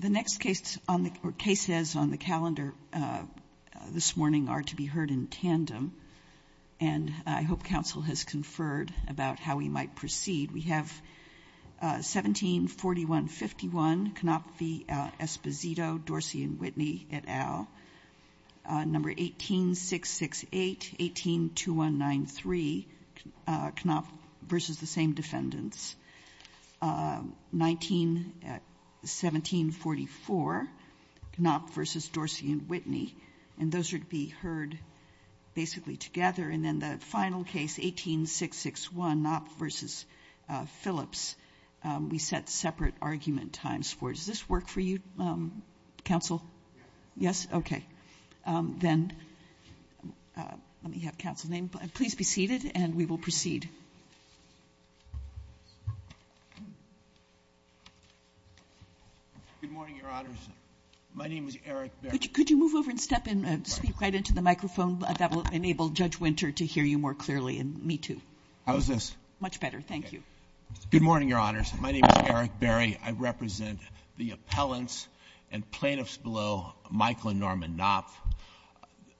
The next cases on the calendar this morning are to be heard in tandem, and I hope counsel has conferred about how we might proceed. We have 17-4151, Knopf v. Esposito, Dorsey and Whitney, et al., number 18-668, 18-2193, Knopf v. the same defendants, 19-1744, Knopf v. Dorsey and Whitney, and those are to be heard basically together. And then the final case, 18-661, Knopf v. Phillips, we set separate argument times for. Does this work for you, counsel? Yes? Okay. Then let me have counsel's name. Please be seated, and we will proceed. Good morning, Your Honors. My name is Eric Berry. Could you move over and step in, speak right into the microphone? That will enable Judge Winter to hear you more clearly, and me, too. How is this? Much better. Thank you. Good morning, Your Honors. My name is Eric Berry. I represent the appellants and plaintiffs below Michael and Norman Knopf.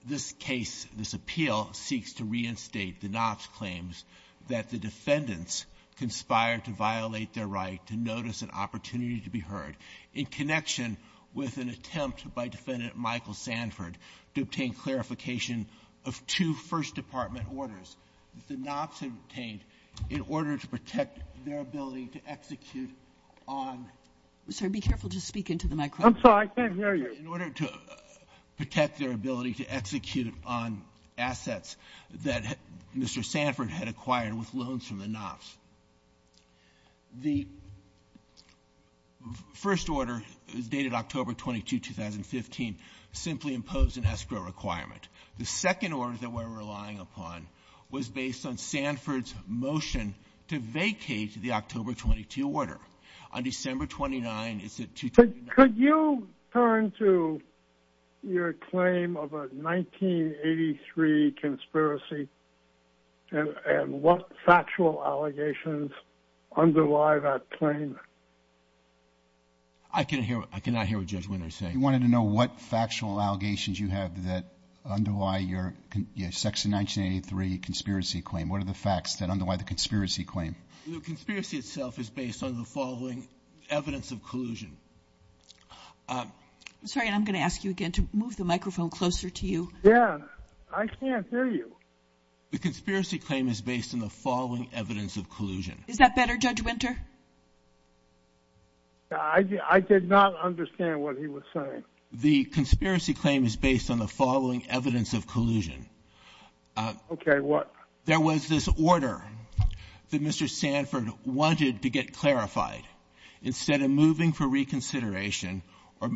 This case, this appeal, seeks to reinstate the Knopf's claims that the defendants conspired to violate their right to notice an opportunity to be heard in connection with an attempt by Defendant Michael Sanford to obtain clarification of two First Department orders that the Knopf's had obtained in order to protect their ability to execute on the assets of the defendant. I'm sorry. Be careful to speak into the microphone. I'm sorry. I can't hear you. In order to protect their ability to execute on assets that Mr. Sanford had acquired with loans from the Knopf's, the first order, dated October 22, 2015, simply imposed an escrow requirement. The second order that we're relying upon was based on Sanford's motion to vacate the October 22 order. On December 29, it's a two- Could you turn to your claim of a 1983 conspiracy and what factual allegations underlie that claim? I cannot hear what Judge Winters is saying. He wanted to know what factual allegations you have that underlie your Section 1983 conspiracy claim. What are the facts that underlie the conspiracy claim? The conspiracy itself is based on the following evidence of collusion. I'm sorry. I'm going to ask you again to move the microphone closer to you. Yeah. I can't hear you. The conspiracy claim is based on the following evidence of collusion. Is that better, Judge Winter? I did not understand what he was saying. The conspiracy claim is based on the following evidence of collusion. Okay. What? There was this order that Mr. Sanford wanted to get clarified. Instead of moving for reconsideration or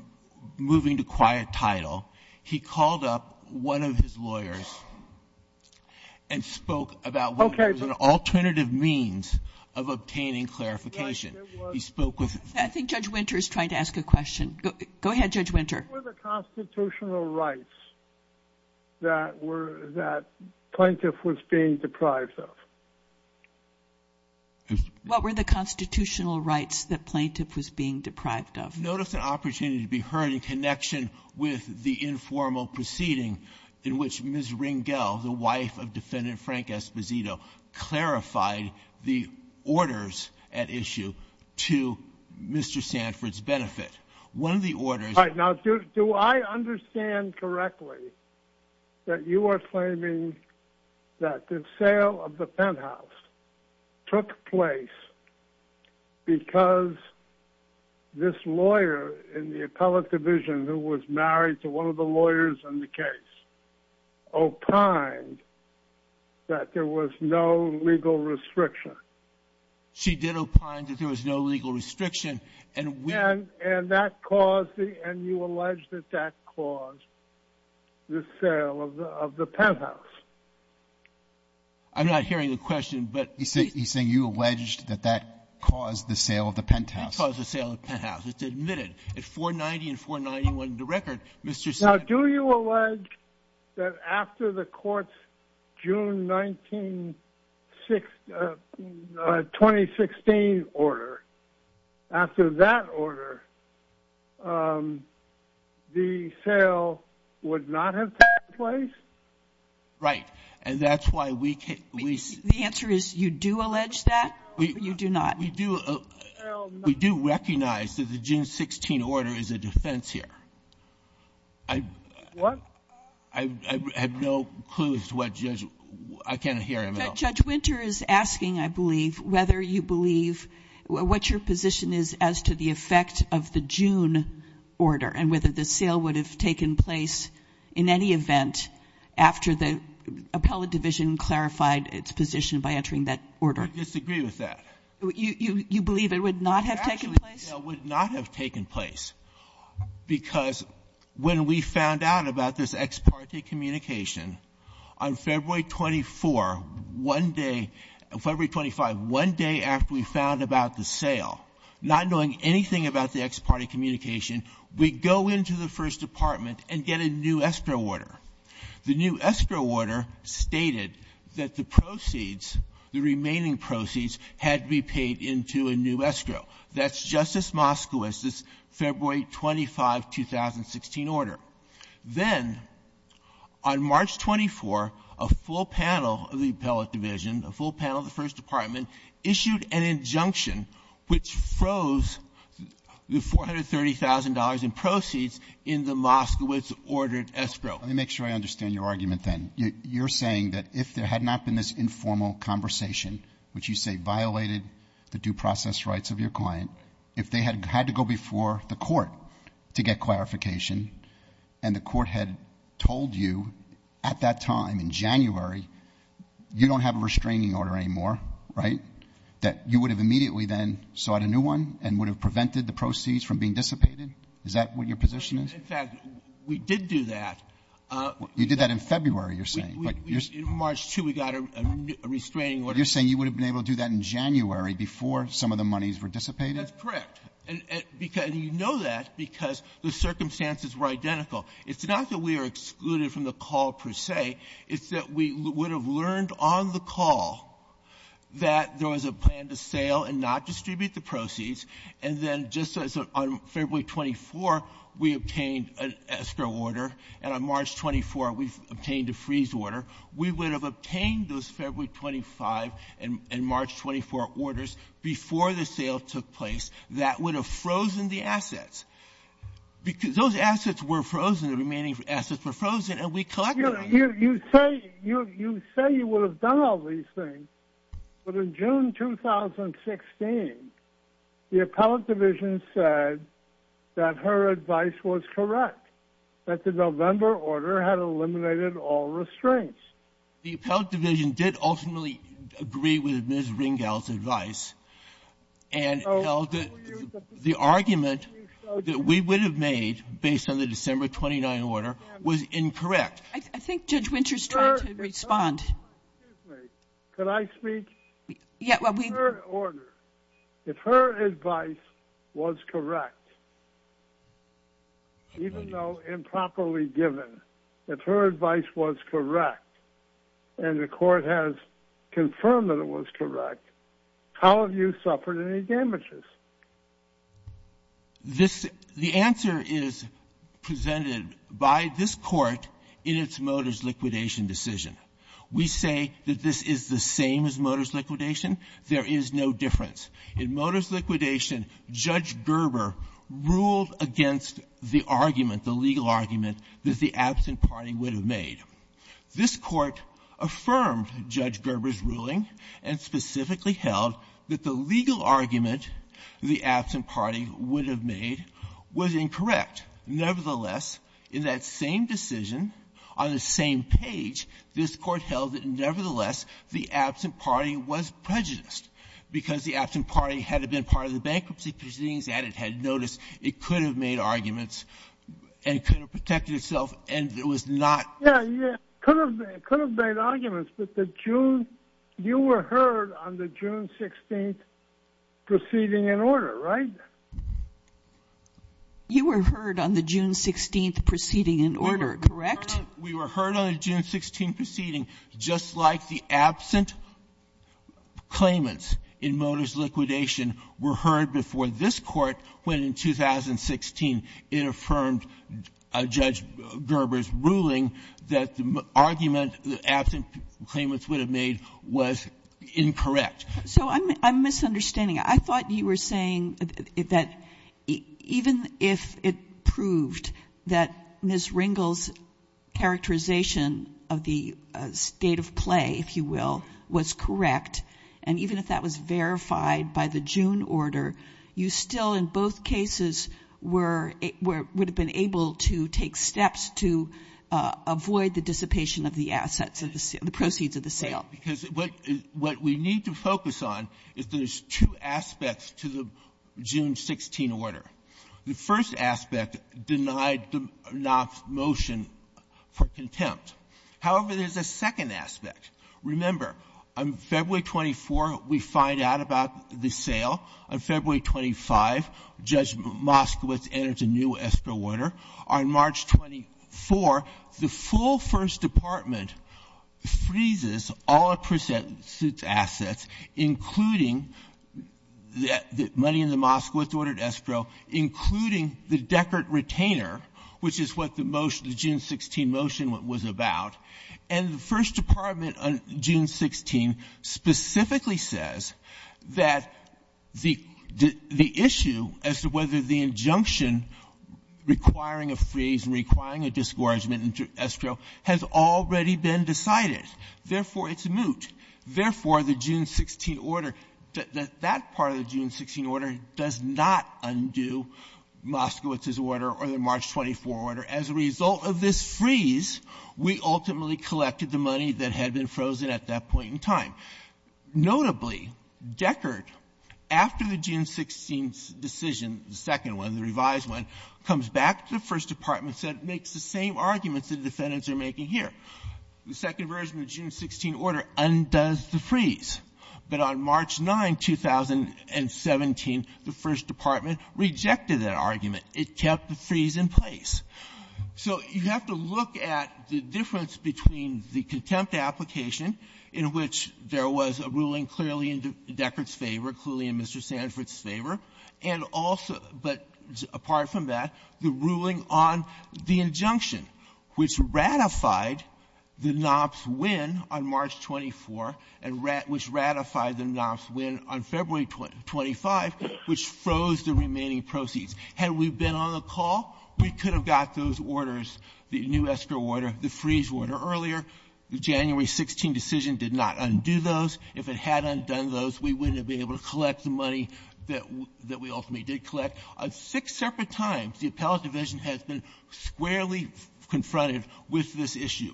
moving to quiet title, he called up one of his lawyers and spoke about what was an alternative means of obtaining clarification. He spoke with- I think Judge Winter is trying to ask a question. Go ahead, Judge Winter. What were the constitutional rights that plaintiff was being deprived of? What were the constitutional rights that plaintiff was being deprived of? Notice an opportunity to be heard in connection with the informal proceeding in which Ms. Ringel, the wife of Defendant Frank Esposito, clarified the orders at issue to Mr. Sanford's benefit. One of the orders- All right. Now, do I understand correctly that you are claiming that the sale of the penthouse took place because this lawyer in the appellate division who was married to one of the lawyers in the case opined that there was no legal restriction? She did opine that there was no legal restriction. And you allege that that caused the sale of the penthouse. I'm not hearing the question, but he's saying you allege that that caused the sale of the penthouse. It caused the sale of the penthouse. It's admitted. At 490 and 491, the record, Mr. Sanford- After that order, the sale would not have taken place? Right. And that's why we- The answer is you do allege that or you do not? We do recognize that the June 16 order is a defense here. I have no clue as to what Judge- I can't hear him at all. Judge Winter is asking, I believe, whether you believe what your position is as to the effect of the June order and whether the sale would have taken place in any event after the appellate division clarified its position by entering that order. I disagree with that. You believe it would not have taken place? The actual sale would not have taken place because when we found out about this ex parte communication, on February 24, one day- on February 25, one day after we found out about the sale, not knowing anything about the ex parte communication, we go into the First Department and get a new escrow order. The new escrow order stated that the proceeds, the remaining proceeds, had to be paid into a new escrow. That's Justice Moskowitz's February 25, 2016, order. Then, on March 24, a full panel of the appellate division, a full panel of the First Department issued an injunction which froze the $430,000 in proceeds in the Moskowitz-ordered escrow. Let me make sure I understand your argument, then. You're saying that if there had not been this informal conversation, which you say violated the due process rights of your client, if they had had to go before the court to get clarification and the court had told you at that time in January, you don't have a restraining order anymore, right? That you would have immediately then sought a new one and would have prevented the proceeds from being dissipated? Is that what your position is? In fact, we did do that. You did that in February, you're saying. In March, too, we got a restraining order. You're saying you would have been able to do that in January before some of the monies were dissipated? That's correct. And you know that because the circumstances were identical. It's not that we are excluded from the call per se. It's that we would have learned on the call that there was a plan to sale and not distribute the proceeds, and then just as on February 24, we obtained an escrow order, and on March 24, we obtained a freeze order, we would have obtained those February 25 and March 24 orders before the sale took place. That would have frozen the assets. Those assets were frozen. The remaining assets were frozen, and we collected them. You say you would have done all these things, but in June 2016, the Appellate Division said that her advice was correct, that the November order had eliminated all restraints. The Appellate Division did ultimately agree with Ms. Ringel's advice and held that the argument that we would have made based on the December 29 order was incorrect. I think Judge Winters tried to respond. Could I speak? Yeah. In her order, if her advice was correct, even though improperly given, if her advice was correct and the court has confirmed that it was correct, how have you suffered any damages? The answer is presented by this court in its Motors liquidation decision. We say that this is the same as Motors liquidation. There is no difference. In Motors liquidation, Judge Gerber ruled against the argument, the legal argument, that the absent party would have made. This Court affirmed Judge Gerber's ruling and specifically held that the legal argument the absent party would have made was incorrect. Nevertheless, in that same decision, on the same page, this Court held that, nevertheless, the absent party was prejudiced because the absent party had been part of the bankruptcy proceedings, and it had noticed it could have made arguments and could have protected itself, and it was not. Yeah, it could have made arguments, but you were heard on the June 16th proceeding in order, right? You were heard on the June 16th proceeding in order, correct? We were heard on the June 16th proceeding, just like the absent claimants in Motors liquidation were heard before this Court when, in 2016, it affirmed Judge Gerber's ruling that the argument the absent claimants would have made was incorrect. So I'm misunderstanding. I thought you were saying that even if it proved that Ms. Ringel's characterization of the state of play, if you will, was correct, and even if that was verified by the June order, you still, in both cases, were able to take steps to avoid the dissipation of the assets of the sale, the proceeds of the sale. Because what we need to focus on is there's two aspects to the June 16 order. The first aspect denied the motion for contempt. However, there's a second aspect. Remember, on February 24, we find out about the sale. On February 25, Judge Moskowitz entered a new escrow order. On March 24, the full First Department freezes all of Prusak's assets, including the money in the Moskowitz-ordered escrow, including the Deckert retainer, which is what the motion, the June 16 motion was about. And the First Department on June 16 specifically says that the issue as to whether the injunction requiring a freeze and requiring a disgorgement in escrow has already been decided. Therefore, it's moot. Therefore, the June 16 order, that part of the June 16 order does not undo Moskowitz's order or the March 24 order. As a result of this freeze, we ultimately collected the money that had been frozen at that point in time. Notably, Deckert, after the June 16 decision, the second one, the revised one, comes back to the First Department and says it makes the same arguments the defendants are making here. The second version of the June 16 order undoes the freeze. But on March 9, 2017, the First Department rejected that argument. It kept the freeze in place. So you have to look at the difference between the contempt application, in which there was a ruling clearly in Deckert's favor, clearly in Mr. Sanford's favor, and also, but apart from that, the ruling on the injunction, which ratified the injunction on March 9, the knobs win on March 24, and which ratified the knobs win on February 25, which froze the remaining proceeds. Had we been on the call, we could have got those orders, the new escrow order, the freeze order, earlier. The January 16 decision did not undo those. If it had undone those, we wouldn't have been able to collect the money that we ultimately did collect. On six separate times, the appellate division has been squarely confronted with this issue.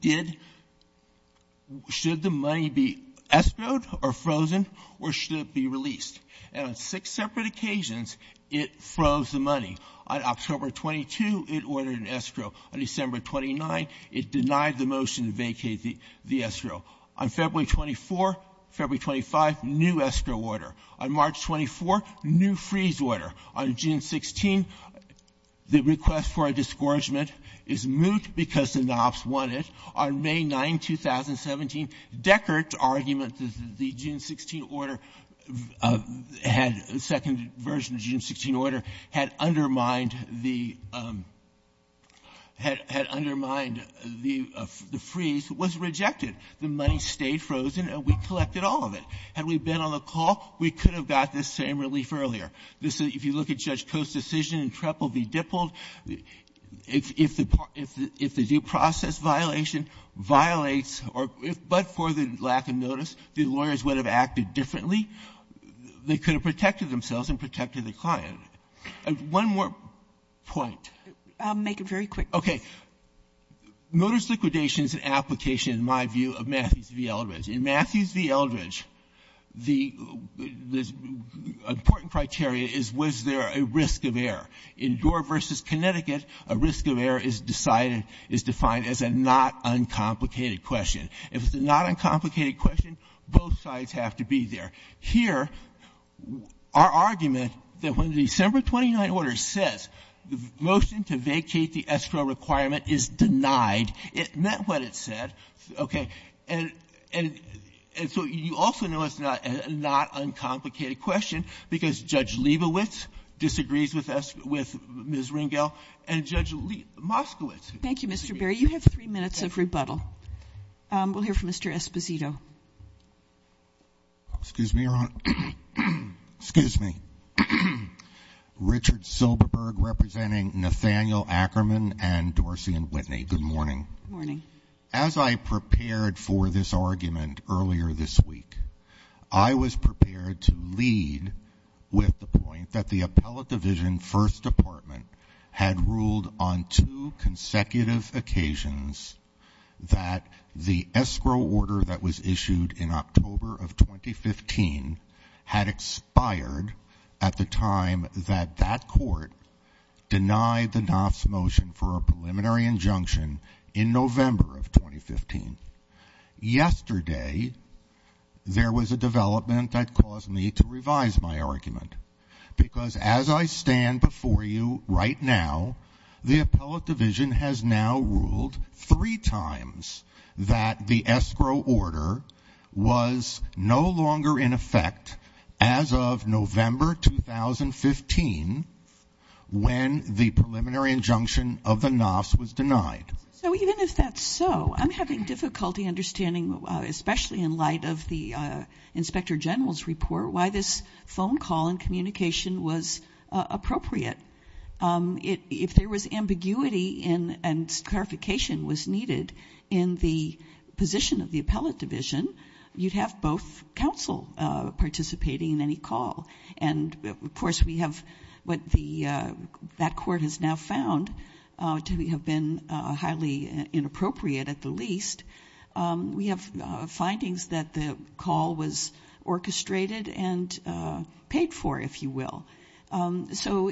Did the money be escrowed or frozen, or should it be released? And on six separate occasions, it froze the money. On October 22, it ordered an escrow. On December 29, it denied the motion to vacate the escrow. On February 24, February 25, new escrow order. On March 24, new freeze order. On June 16, the request for a disgorgement is moot because the knobs won it. On May 9, 2017, Deckert's argument that the June 16 order had the second version of the June 16 order had undermined the freeze was rejected. The money stayed frozen, and we collected all of it. Had we been on the call, we could have got this same relief earlier. If you look at Judge Coe's decision in Treple v. Dippold, if the due process violation violates or if, but for the lack of notice, the lawyers would have acted differently, they could have protected themselves and protected the client. One more point. Kagan. I'll make it very quick. Okay. In Matthews v. Eldridge, the important criteria is was there a risk of error. In Doar v. Connecticut, a risk of error is decided, is defined as a not uncomplicated question. If it's a not uncomplicated question, both sides have to be there. Here, our argument that when the December 29 order says the motion to vacate the escrow requirement is denied, it meant what it said, okay? And so you also know it's not a not uncomplicated question because Judge Leibowitz disagrees with Ms. Ringel and Judge Moskowitz. Thank you, Mr. Berry. You have three minutes of rebuttal. We'll hear from Mr. Esposito. Excuse me, Your Honor. Excuse me. Richard Silberberg representing Nathaniel Ackerman and Dorsey and Whitney. Good morning. Morning. As I prepared for this argument earlier this week, I was prepared to lead with the point that the Appellate Division First Department had ruled on two consecutive occasions that the escrow order that was issued in October of 2015 had expired at the time that that court denied the NAFTA's motion for a preliminary injunction in November of 2015. Yesterday, there was a development that caused me to revise my argument because as I stand before you right now, the Appellate Division has now ruled three times that the escrow order was no longer in effect as of November 2015 when the preliminary injunction of the NAFTA was denied. So even if that's so, I'm having difficulty understanding, especially in light of the Inspector General's report, why this phone call and communication was appropriate. If there was ambiguity and clarification was needed in the position of the Appellate Division, you'd have both counsel participating in any call. And of course, we have what that court has now found to have been highly inappropriate at the least. We have findings that the call was orchestrated and paid for, if you will. So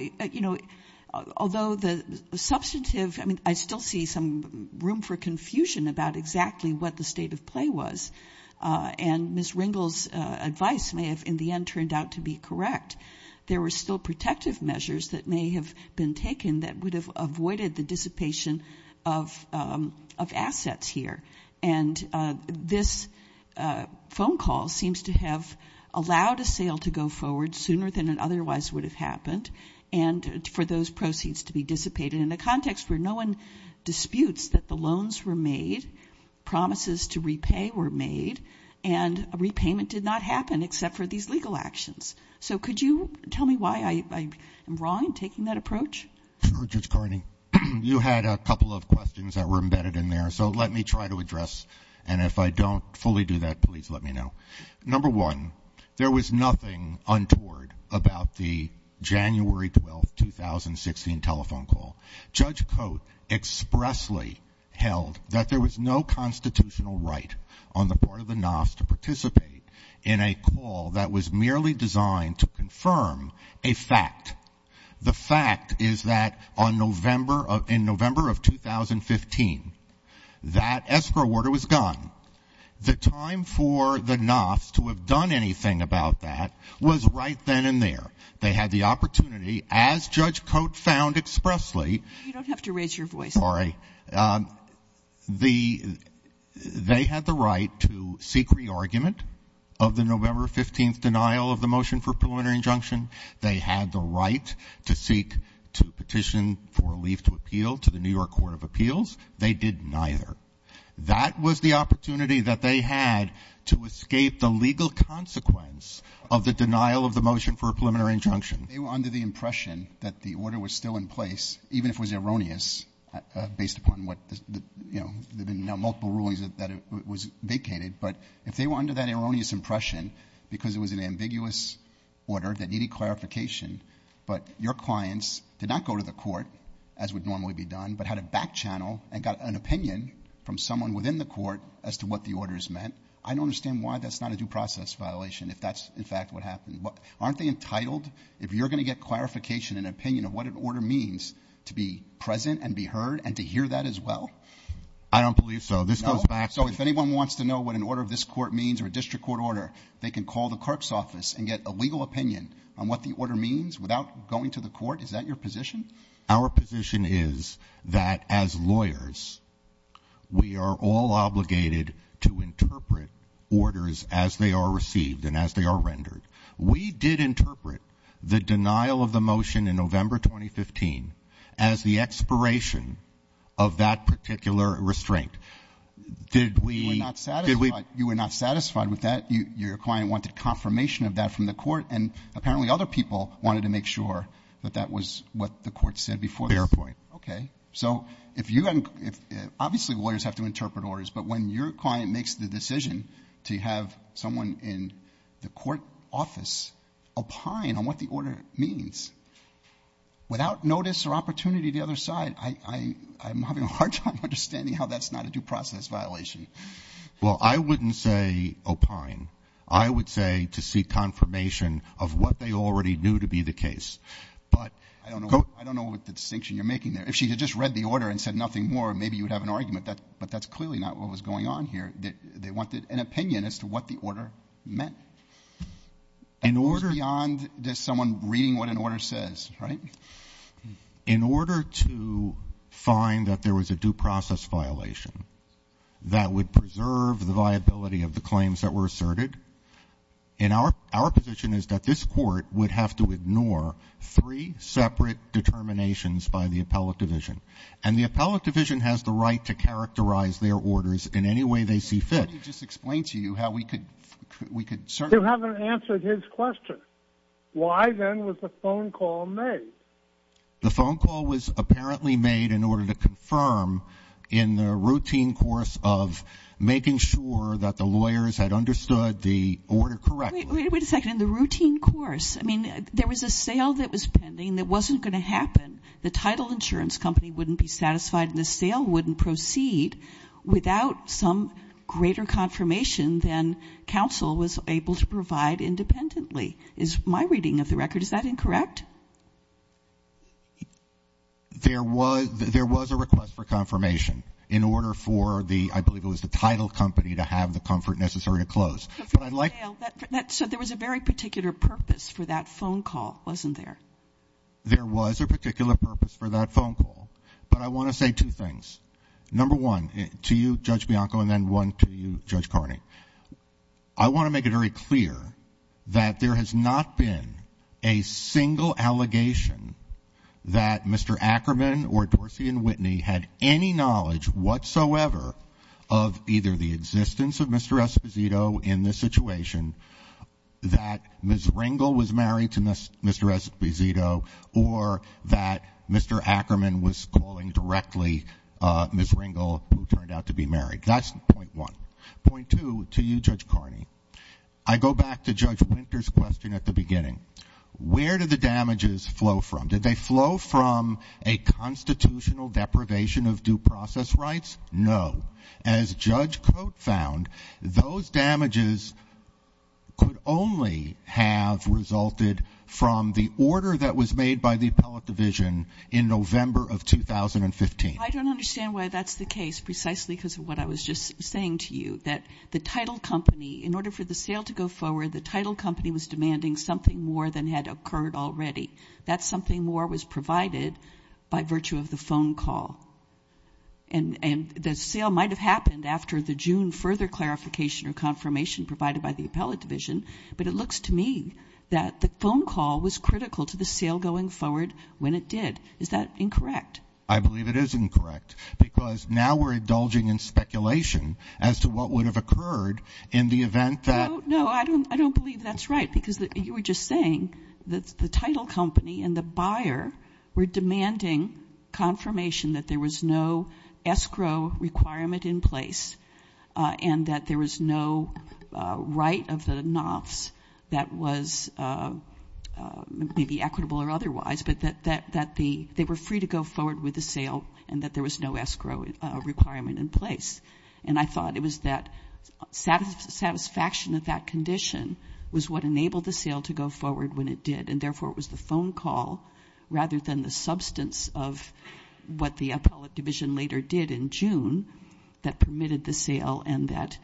although the substantive, I mean, I still see some room for confusion about exactly what the state of play was. And Ms. Ringel's advice may have in the end turned out to be correct. There were still protective measures that may have been taken that would have avoided the dissipation of assets here. And this phone call seems to have allowed a sale to go forward sooner than it otherwise would have happened. And for those proceeds to be dissipated in a context where no one disputes that the and a repayment did not happen except for these legal actions. So could you tell me why I am wrong in taking that approach? Sure, Judge Carney. You had a couple of questions that were embedded in there. So let me try to address. And if I don't fully do that, please let me know. Number one, there was nothing untoward about the January 12, 2016 telephone call. Judge Coates expressly held that there was no constitutional right on the part of the NAFTA to participate in a call that was merely designed to confirm a fact. The fact is that in November of 2015, that escrow order was gone. The time for the NAFTA to have done anything about that was right then and there. They had the opportunity, as Judge Coates found expressly. You don't have to raise your voice. Sorry. They had the right to seek re-argument of the November 15th denial of the motion for preliminary injunction. They had the right to seek to petition for a leave to appeal to the New York Court of Appeals. They did neither. That was the opportunity that they had to escape the legal consequence of the denial of the motion for a preliminary injunction. They were under the impression that the order was still in place, even if it was erroneous, based upon what the, you know, there have been multiple rulings that it was vacated. But if they were under that erroneous impression because it was an ambiguous order that needed clarification, but your clients did not go to the court, as would normally be done, but had a back channel and got an opinion from someone within the court as to what the order is meant, I don't understand why that's not a due process violation if that's, in fact, what happened. Aren't they entitled, if you're going to get clarification and opinion of what an order means, to be present and be heard and to hear that as well? I don't believe so. This goes back to... So if anyone wants to know what an order of this court means or a district court order, they can call the clerk's office and get a legal opinion on what the order means without going to the court? Is that your position? Our position is that as lawyers, we are all obligated to interpret orders as they are considered. We did interpret the denial of the motion in November 2015 as the expiration of that particular restraint. Did we... You were not satisfied. You were not satisfied with that. Your client wanted confirmation of that from the court, and apparently other people wanted to make sure that that was what the court said before this. Fair point. Okay. So if you... Obviously, lawyers have to interpret orders, but when your client makes the decision to have someone in the court office opine on what the order means without notice or opportunity to the other side, I'm having a hard time understanding how that's not a due process violation. Well, I wouldn't say opine. I would say to seek confirmation of what they already knew to be the case. But... I don't know what the distinction you're making there. If she had just read the order and said nothing more, maybe you would have an argument. But that's clearly not what was going on here. They wanted an opinion as to what the order meant. In order... It goes beyond just someone reading what an order says, right? In order to find that there was a due process violation that would preserve the viability of the claims that were asserted, our position is that this court would have to ignore three separate determinations by the appellate division. And the appellate division has the right to characterize their orders in any way they see fit. Let me just explain to you how we could... We could certainly... You haven't answered his question. Why then was the phone call made? The phone call was apparently made in order to confirm in the routine course of making sure that the lawyers had understood the order correctly. Wait a second. In the routine course? I mean, there was a sale that was pending that wasn't going to happen. The title insurance company wouldn't be satisfied, and the sale wouldn't proceed without some greater confirmation than counsel was able to provide independently, is my reading of the record. Is that incorrect? There was... There was a request for confirmation in order for the... I believe it was the title company to have the comfort necessary to close. But I'd like... So there was a very particular purpose for that phone call, wasn't there? There was a particular purpose for that phone call, but I want to say two things. Number one, to you, Judge Bianco, and then one to you, Judge Carney, I want to make it very clear that there has not been a single allegation that Mr. Ackerman or Dorsey and Whitney had any knowledge whatsoever of either the existence of Mr. Esposito in this situation, that Ms. Ringel was married to Mr. Esposito, or that Mr. Ackerman was calling directly Ms. Ringel, who turned out to be married. That's point one. Point two, to you, Judge Carney, I go back to Judge Winter's question at the beginning. Where did the damages flow from? Did they flow from a constitutional deprivation of due process rights? No. As Judge Cote found, those damages could only have resulted from the order that was made by the appellate division in November of 2015. I don't understand why that's the case, precisely because of what I was just saying to you, that the title company, in order for the sale to go forward, the title company was demanding something more than had occurred already. That something more was provided by virtue of the phone call. And the sale might have happened after the June further clarification or confirmation provided by the appellate division, but it looks to me that the phone call was critical to the sale going forward when it did. Is that incorrect? I believe it is incorrect, because now we're indulging in speculation as to what would have occurred in the event that... No, I don't believe that's right, because you were just saying that the title company and the buyer were demanding confirmation that there was no escrow requirement in place and that there was no right of the nots that was maybe equitable or otherwise, but that they were free to go forward with the sale and that there was no escrow requirement in place. And I thought it was that satisfaction of that condition was what enabled the sale to go forward when it did, and therefore it was the phone call rather than the substance of what the appellate division later did in June that permitted the sale and that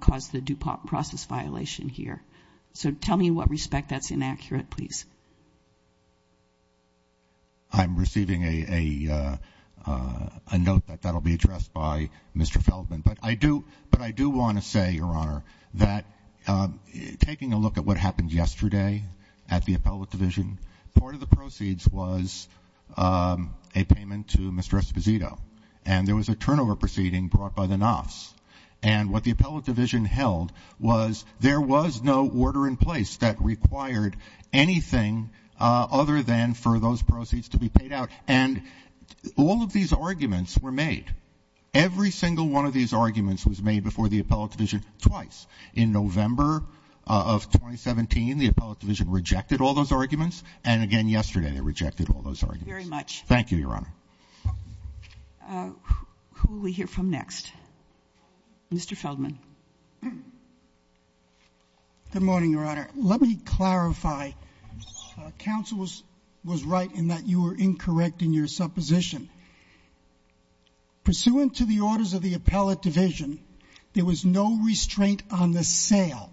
caused the due process violation here. So tell me in what respect that's inaccurate, please. I'm receiving a note that that'll be addressed by Mr. Feldman, but I do want to say, Your Honor, that yesterday at the appellate division, part of the proceeds was a payment to Mr. Esposito, and there was a turnover proceeding brought by the nots. And what the appellate division held was there was no order in place that required anything other than for those proceeds to be paid out. And all of these arguments were made. Every single one of these arguments was made before the appellate division twice. In November of 2017, the appellate division rejected all those arguments, and again yesterday they rejected all those arguments. Very much. Thank you, Your Honor. Who will we hear from next? Mr. Feldman. Good morning, Your Honor. Let me clarify. Counsel was right in that you were incorrect in your supposition. Pursuant to the orders of the appellate division, there was no restraint on the sale.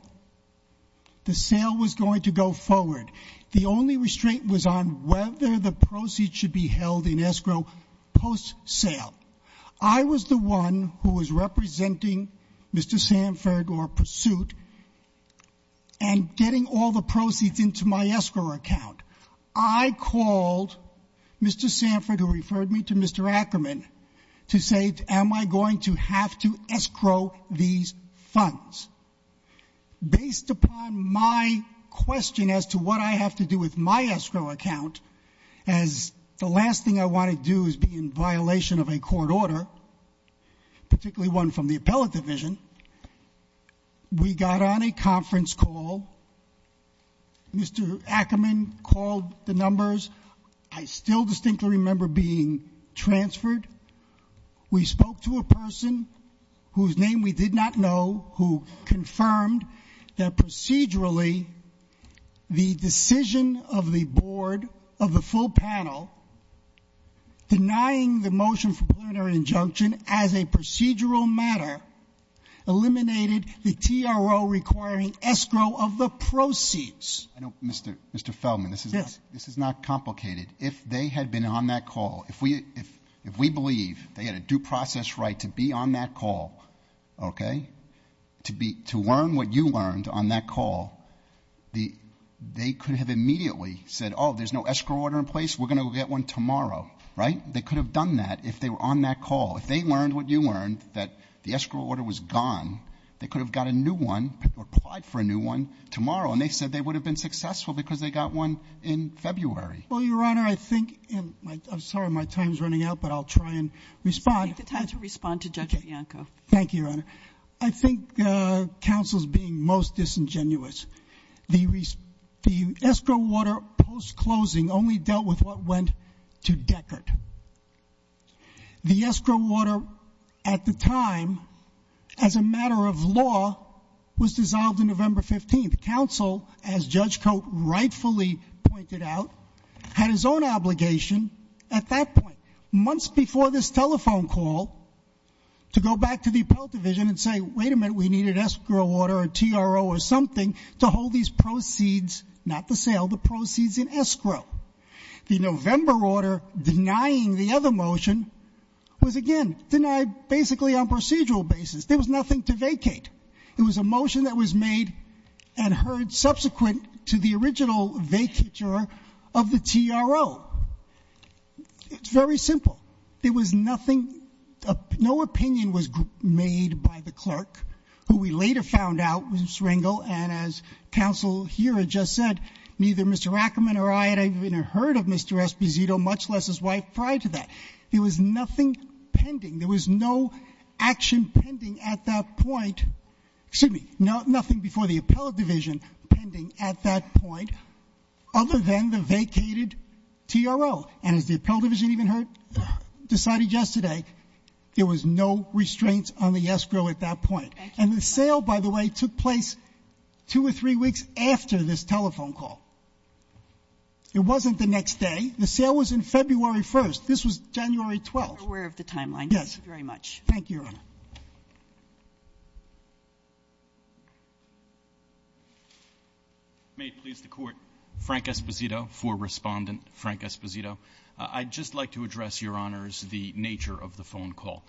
The sale was going to go forward. The only restraint was on whether the proceeds should be held in escrow post-sale. I was the one who was representing Mr. Sanford, or pursuit, and getting all the proceeds into my escrow account. I called Mr. Sanford, who referred me to Mr. Ackerman, to say, am I going to have to escrow these funds? Based upon my question as to what I have to do with my escrow account, as the last thing I want to do is be in violation of a court order, particularly one from the appellate division, we got on a conference call. Mr. Ackerman called the numbers. I still distinctly remember being transferred. We spoke to a person whose name we did not know who confirmed that procedurally the decision of the board, of the full panel, denying the motion for preliminary injunction as a procedural matter eliminated the TRO requiring escrow of the proceeds. Mr. Feldman, this is not complicated. If they had been on that call, if we believe they had a due process right to be on that call, okay, to learn what you learned on that call, they could have immediately said, oh, there's no escrow order in place, we're going to get one tomorrow, right? They could have done that if they were on that call. If they learned what you learned, that the escrow order was gone, they could have got a new one or applied for a new one tomorrow, and they said they would have been successful because they got one in February. Well, Your Honor, I think, and I'm sorry, my time is running out, but I'll try and respond. Take the time to respond to Judge Bianco. Thank you, Your Honor. I think counsel's being most disingenuous. The escrow order post-closing only dealt with what went to Deckert. The escrow order at the time, as a matter of law, was dissolved on November 15th. Counsel, as Judge Cote rightfully pointed out, had his own obligation at that point, months before this telephone call, to go back to the appellate division and say, wait a minute, we needed an escrow order, a TRO or something, to hold these proceeds, not the sale, the proceeds in escrow. The November order denying the other motion was, again, denied basically on procedural basis. There was nothing to vacate. It was a motion that was made and heard subsequent to the original vacature of the TRO. It's very simple. There was nothing, no opinion was made by the clerk, who we later found out was Rangel, and as counsel here had just said, neither Mr. Ackerman or I had even heard of Mr. Esposito, much less his wife, prior to that. There was nothing pending. There was no action pending at that point, excuse me, nothing before the appellate division pending at that point, other than the vacated TRO. And as the appellate division even heard, decided yesterday, there was no restraints on the escrow at that point. And the sale, by the way, took place two or three weeks after this telephone call. It wasn't the next day. The sale was on February 1st. This was January 12th. You're aware of the timeline. Yes. Thank you very much. Thank you, Your Honor. May it please the Court, Frank Esposito, for Respondent Frank Esposito. I'd just like to address, Your Honors, the nature of the phone call.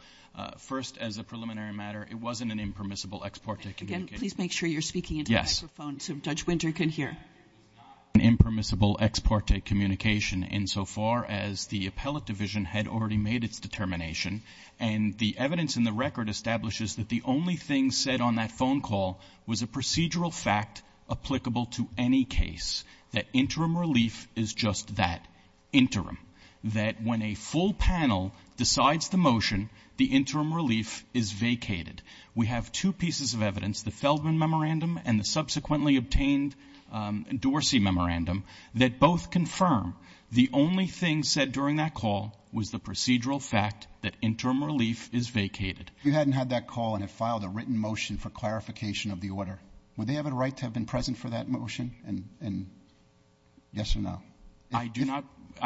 First, as a preliminary matter, it wasn't an impermissible ex parte communication. Again, please make sure you're speaking into the microphone so Judge Winter can hear. Yes. It was not an impermissible ex parte communication, insofar as the appellate division had already made its determination, and the evidence in the record establishes that the only thing said on that phone call was a procedural fact applicable to any case, that interim relief is just that, interim, that when a full panel decides the motion, the interim relief is vacated. We have two pieces of evidence, the Feldman Memorandum and the subsequently obtained Dorsey Memorandum, that both confirm the only thing said during that call was the procedural fact that interim relief is vacated. If you hadn't had that call and had filed a written motion for clarification of the order, would they have a right to have been present for that motion? And yes or no? I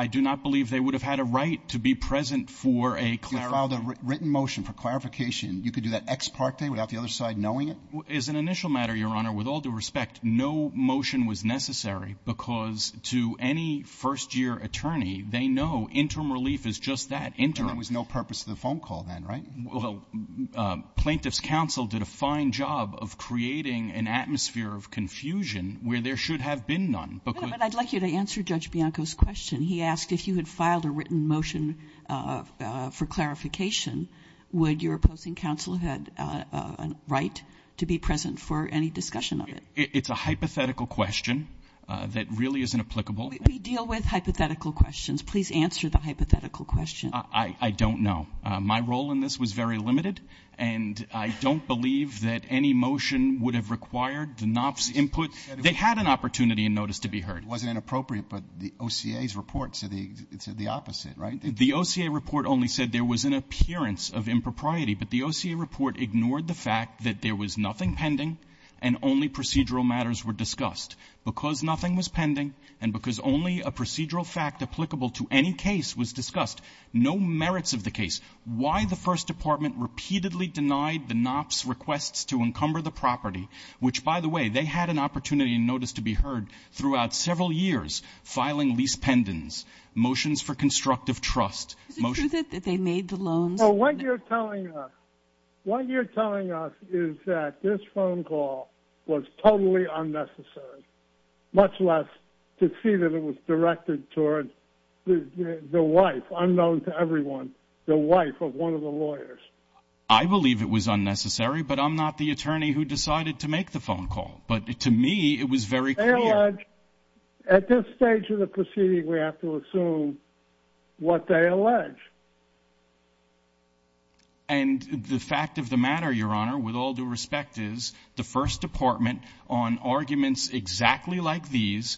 do not believe they would have had a right to be present for a clarification. If you filed a written motion for clarification, you could do that ex parte without the other side knowing it? As an initial matter, Your Honor, with all due respect, no motion was necessary because to any first-year attorney, they know interim relief is just that, interim. And there was no purpose to the phone call then, right? Well, plaintiff's counsel did a fine job of creating an atmosphere of confusion where there should have been none. But I'd like you to answer Judge Bianco's question. He asked if you had filed a written motion for clarification, would your opposing counsel have a right to be present for any discussion of it? It's a hypothetical question that really isn't applicable. We deal with hypothetical questions. Please answer the hypothetical question. I don't know. My role in this was very limited, and I don't believe that any motion would have required the NOPS input. They had an opportunity in notice to be heard. It wasn't inappropriate, but the OCA's report said the opposite, right? The OCA report only said there was an appearance of impropriety, but the OCA report ignored the fact that there was nothing pending and only procedural matters were discussed. Because nothing was pending and because only a procedural fact applicable to any case was discussed, no merits of the case. Why the First Department repeatedly denied the NOPS requests to encumber the property, which, by the way, they had an opportunity in notice to be heard throughout several years, filing lease pendants, motions for constructive trust. Is it true that they made the loans? Well, what you're telling us is that this phone call was totally unnecessary, much less to see that it was directed toward the wife, unknown to everyone, the wife of one of the lawyers. I believe it was unnecessary, but I'm not the attorney who decided to make the phone call. But to me, it was very clear. They allege, at this stage of the proceeding, we have to assume what they allege. And the fact of the matter, Your Honor, with all due respect, is the First Department on arguments exactly like these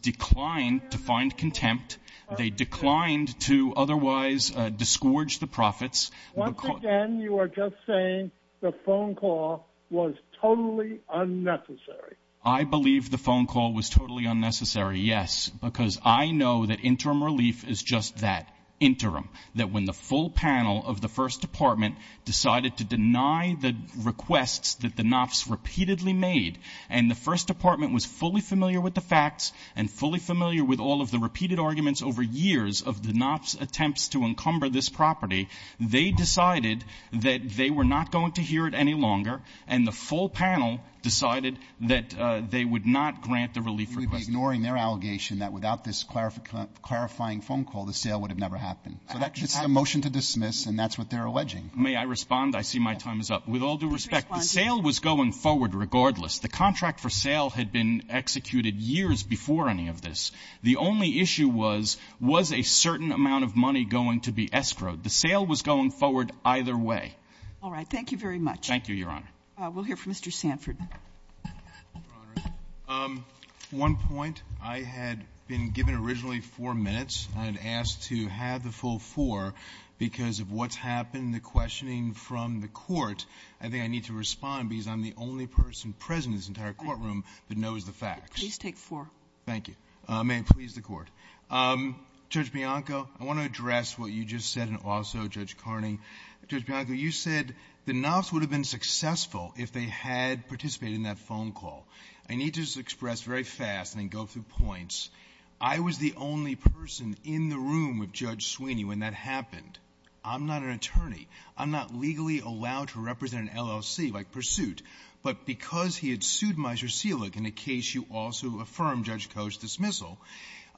declined to find contempt. They declined to otherwise disgorge the profits. Once again, you are just saying the phone call was totally unnecessary. I believe the phone call was totally unnecessary, yes, because I know that interim relief is just that, interim, that when the full panel of the First Department decided to deny the requests that the NOPS repeatedly made and the First Department was fully familiar with the facts and fully familiar with all of the repeated arguments over years of the NOPS attempts to encumber this property, they decided that they were not going to hear it any longer, and the full panel decided that they would not grant the relief request. You would be ignoring their allegation that without this clarifying phone call, the sale would have never happened. So that's just a motion to dismiss, and that's what they're alleging. May I respond? I see my time is up. With all due respect, the sale was going forward regardless. The contract for sale had been executed years before any of this. The only issue was, was a certain amount of money going to be escrowed? The sale was going forward either way. All right. Thank you very much. Thank you, Your Honor. We'll hear from Mr. Sanford. Um, one point. I had been given originally four minutes. I had asked to have the full four because of what's happened, the questioning from the court. I think I need to respond because I'm the only person present in this entire courtroom that knows the facts. Please take four. Thank you. Uh, may it please the court. Um, Judge Bianco, I want to address what you just said, and also Judge Carney. Judge Bianco, you said the Knopf's would have been successful if they had participated in that phone call. I need to express very fast and then go through points. I was the only person in the room with Judge Sweeney when that happened. I'm not an attorney. I'm not legally allowed to represent an LLC like pursuit, but because he had in a case, you also affirm judge coach dismissal.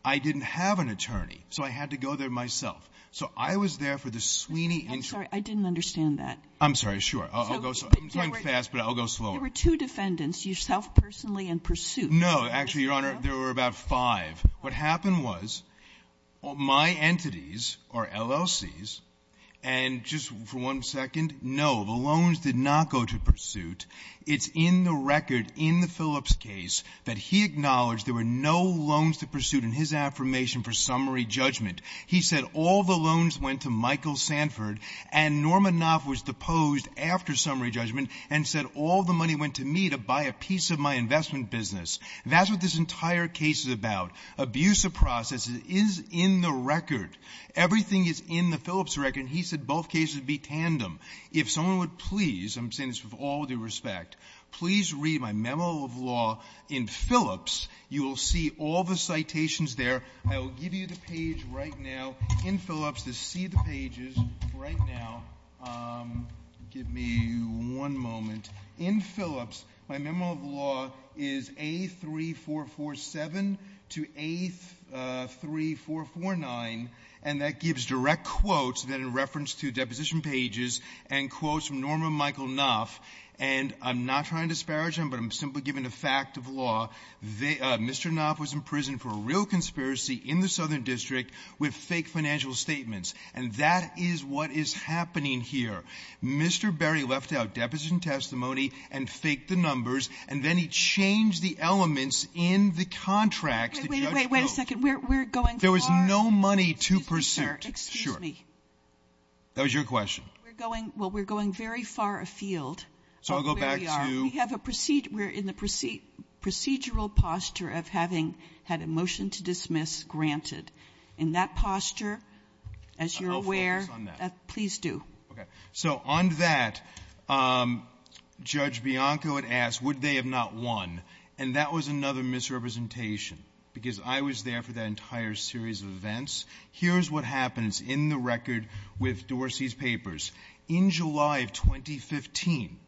I didn't have an attorney, so I had to go there myself. So I was there for the Sweeney. I'm sorry. I didn't understand that. I'm sorry. Sure. I'll go fast, but I'll go slow. There were two defendants, yourself personally and pursuit. No, actually, Your Honor, there were about five. What happened was all my entities are LLCs and just for one second. No, the loans did not go to pursuit. It's in the record in the Phillips case that he acknowledged there were no loans to pursuit in his affirmation for summary judgment, he said all the loans went to Michael Sanford and Norman Knopf was deposed after summary judgment and said all the money went to me to buy a piece of my investment business. That's what this entire case is about. Abuse of processes is in the record. Everything is in the Phillips record. He said both cases would be tandem. If someone would please, I'm saying this with all due respect, please read my memo of law in Phillips. You will see all the citations there. I will give you the page right now in Phillips to see the pages right now. Um, give me one moment in Phillips. My memo of law is a three, four, four, seven to eight, uh, three, four, four, nine, and that gives direct quotes that in reference to deposition pages and quotes from Norman Michael Knopf. And I'm not trying to disparage him, but I'm simply given a fact of law. They, uh, Mr. Knopf was in prison for a real conspiracy in the Southern district with fake financial statements. And that is what is happening here. Mr. Berry left out deposition testimony and faked the numbers. And then he changed the elements in the contracts. Wait, wait, wait a second. We're going. There was no money to pursue me. That was your question. We're going, well, we're going very far afield. So I'll go back to, we have a proceed. We're in the proceed procedural posture of having had a motion to dismiss granted in that posture, as you're aware, please do. Okay. So on that, um, judge Bianco had asked, would they have not won? And that was another misrepresentation because I was there for that entire series of events. Here's what happens in the record with Dorsey's papers in July of 2015,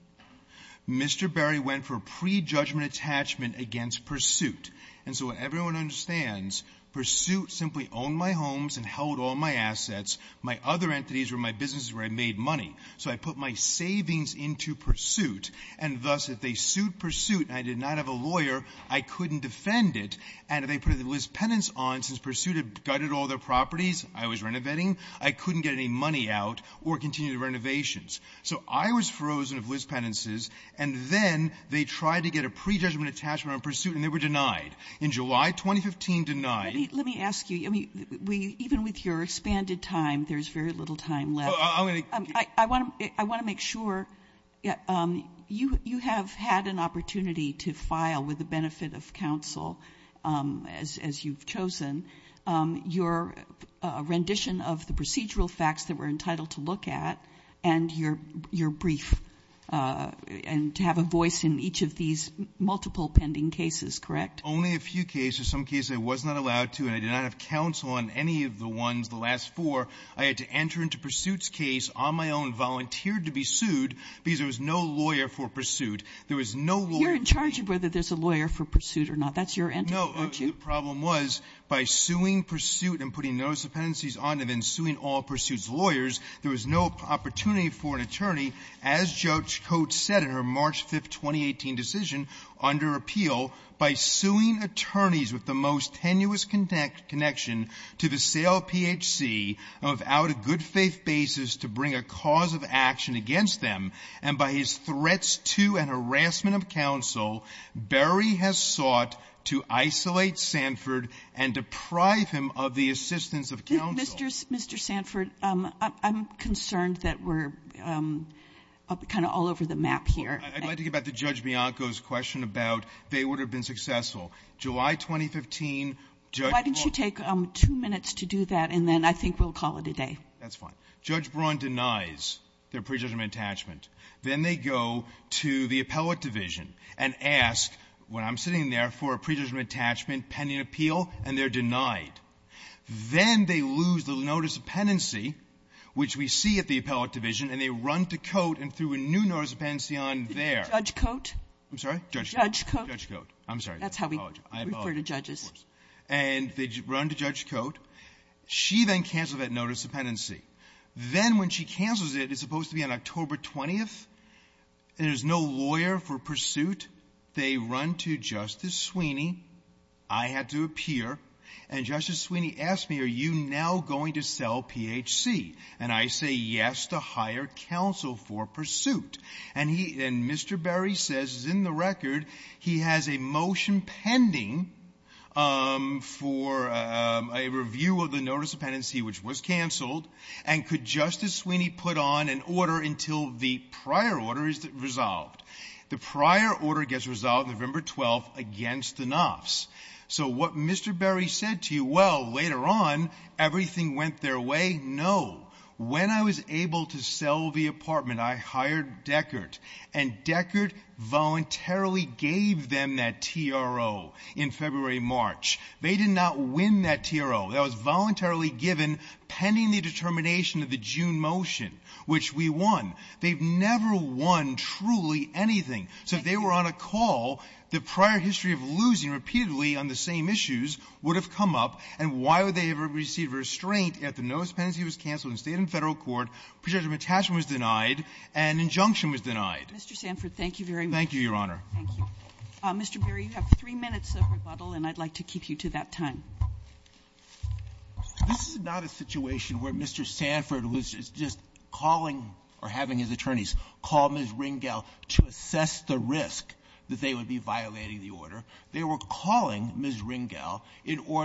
Mr. Berry went for pre-judgment attachment against pursuit. And so everyone understands pursuit simply owned my homes and held all my assets. My other entities were my businesses where I made money. So I put my savings into pursuit and thus if they sued pursuit, I did not have a lawyer, I couldn't defend it. And if they put it in Liz penance on since pursuit had gutted all their properties, I was renovating. I couldn't get any money out or continue to renovations. So I was frozen of Liz penances. And then they tried to get a pre-judgment attachment on pursuit and they were denied in July, 2015 denied. Let me ask you, I mean, we, even with your expanded time, there's very little time left. I want to, I want to make sure you, you have had an opportunity to file with the benefit of counsel, um, as, as you've chosen, um, your, uh, rendition of the procedural facts that we're entitled to look at and your, your brief, uh, and to have a voice in each of these multiple pending cases, correct? Only a few cases, some cases I was not allowed to, and I did not have counsel on any of the ones, the last four. I had to enter into pursuits case on my own volunteered to be sued because there was no lawyer for pursuit. There was no law. You're in charge of whether there's a lawyer for pursuit or not. That's your end. No, the problem was by suing pursuit and putting those dependencies on and then suing all pursuits lawyers, there was no opportunity for an attorney as judge coach said in her March 5th, 2018 decision under appeal by suing attorneys with the most of out of good faith basis to bring a cause of action against them. And by his threats to an harassment of counsel, Barry has sought to isolate Sanford and deprive him of the assistance of counselors. Mr. Sanford. Um, I'm concerned that we're, um, kind of all over the map here. I'd like to get back to judge Bianco's question about they would have been successful July, 2015. Why didn't you take two minutes to do that? And then I think we'll call it a day. That's fine. Judge Braun denies their prejudgment attachment. Then they go to the appellate division and ask when I'm sitting there for a predetermined attachment, pending appeal, and they're denied. Then they lose the notice of penancy, which we see at the appellate division and they run to coat and through a new notice of penancy on their judge coat. I'm sorry, judge, judge coat. I'm sorry. That's how we refer to judges. And they run to judge coat. She then canceled that notice of penancy. Then when she cancels it, it's supposed to be on October 20th and there's no lawyer for pursuit. They run to justice Sweeney. I had to appear and justice Sweeney asked me, are you now going to sell PHC? And I say yes to hire counsel for pursuit. And he, and Mr. Berry says is in the record. He has a motion pending, um, for, um, a review of the notice of penancy, which was canceled and could justice Sweeney put on an order until the prior order is resolved. The prior order gets resolved November 12th against the Knopf's. So what Mr. Berry said to you, well, later on, everything went their way. No. When I was able to sell the apartment, I hired Deckert and Deckert voluntarily gave them that TRO in February, March. They did not win that TRO that was voluntarily given pending the determination of the June motion, which we won. They've never won truly anything. So if they were on a call, the prior history of losing repeatedly on the same issues would have come up. And why would they ever receive restraint at the notice? Because the penalty was canceled in the state and federal court, prejudicement attachment was denied, and injunction was denied. Mr. Sanford, thank you very much. Thank you, Your Honor. Thank you. Mr. Berry, you have three minutes of rebuttal, and I'd like to keep you to that time. This is not a situation where Mr. Sanford was just calling or having his attorneys call Ms. Ringel to assess the risk that they would be violating the order. They were calling Ms. Phillips and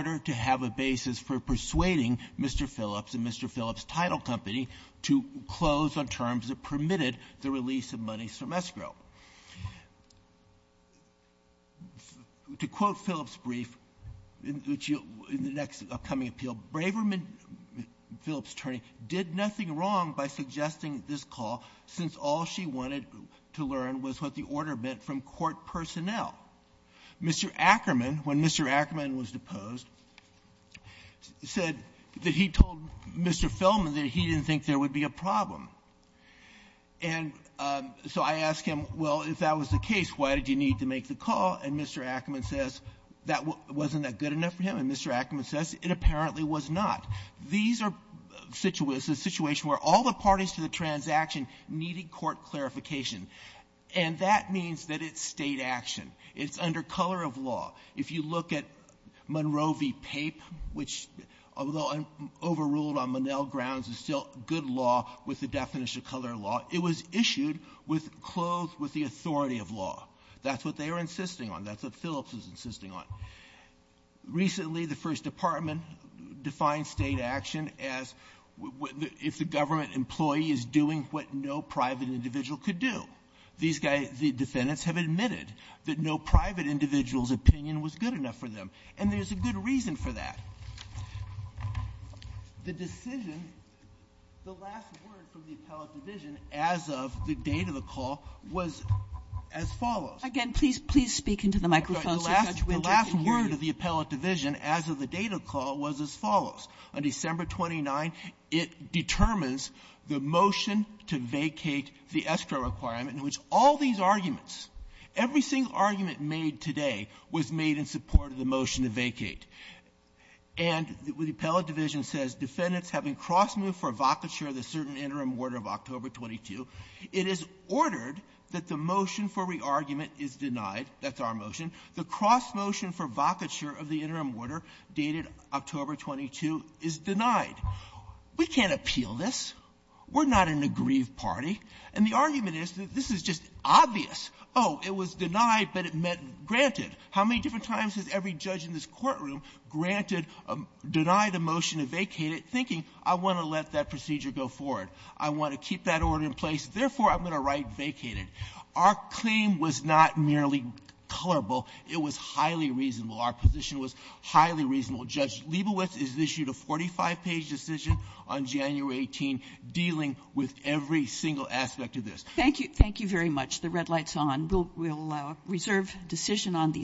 Mr. Phillips' title company to close on terms that permitted the release of monies from escrow. To quote Phillips' brief in the next upcoming appeal, Braverman, Phillips' attorney, did nothing wrong by suggesting this call since all she wanted to learn was what the order meant from court personnel. Mr. Ackerman, when Mr. Ackerman was deposed, said that he told Mr. Feldman that he didn't think there would be a problem. And so I asked him, well, if that was the case, why did you need to make the call? And Mr. Ackerman says that wasn't that good enough for him. And Mr. Ackerman says it apparently was not. These are situations where all the parties to the transaction needed court clarification. And that means that it's state action. It's under color of law. If you look at Monroe v. Pape, which, although overruled on Monell grounds, is still good law with the definition of color law, it was issued with clothe with the authority of law. That's what they were insisting on. That's what Phillips was insisting on. Recently, the first department defined state action as if the government employee is doing what no private individual could do. These guys, the defendants, have admitted that no private individual's opinion was good enough for them. And there's a good reason for that. The decision, the last word from the appellate division as of the date of the call was as follows. Kagan, please, please speak into the microphone so Judge Winters can hear you. The last word of the appellate division as of the date of the call was as follows. On December 29, it determines the motion to vacate the escrow requirement in which all these arguments, every single argument made today, was made in support of the motion to vacate. And the appellate division says defendants have been cross-moved for vocature of the certain interim order of October 22. It is ordered that the motion for re-argument is denied. That's our motion. The cross-motion for vocature of the interim order dated October 22 is denied. We can't appeal this. We're not an aggrieved party. And the argument is that this is just obvious. Oh, it was denied, but it meant granted. How many different times has every judge in this courtroom granted a deny the motion to vacate it, thinking I want to let that procedure go forward? I want to keep that order in place. Therefore, I'm going to write vacated. Our claim was not merely colorable. It was highly reasonable. Our position was highly reasonable. Judge Leibowitz has issued a 45-page decision on January 18 dealing with every single aspect of this. Thank you. Thank you very much. The red light's on. We'll reserve decision on these.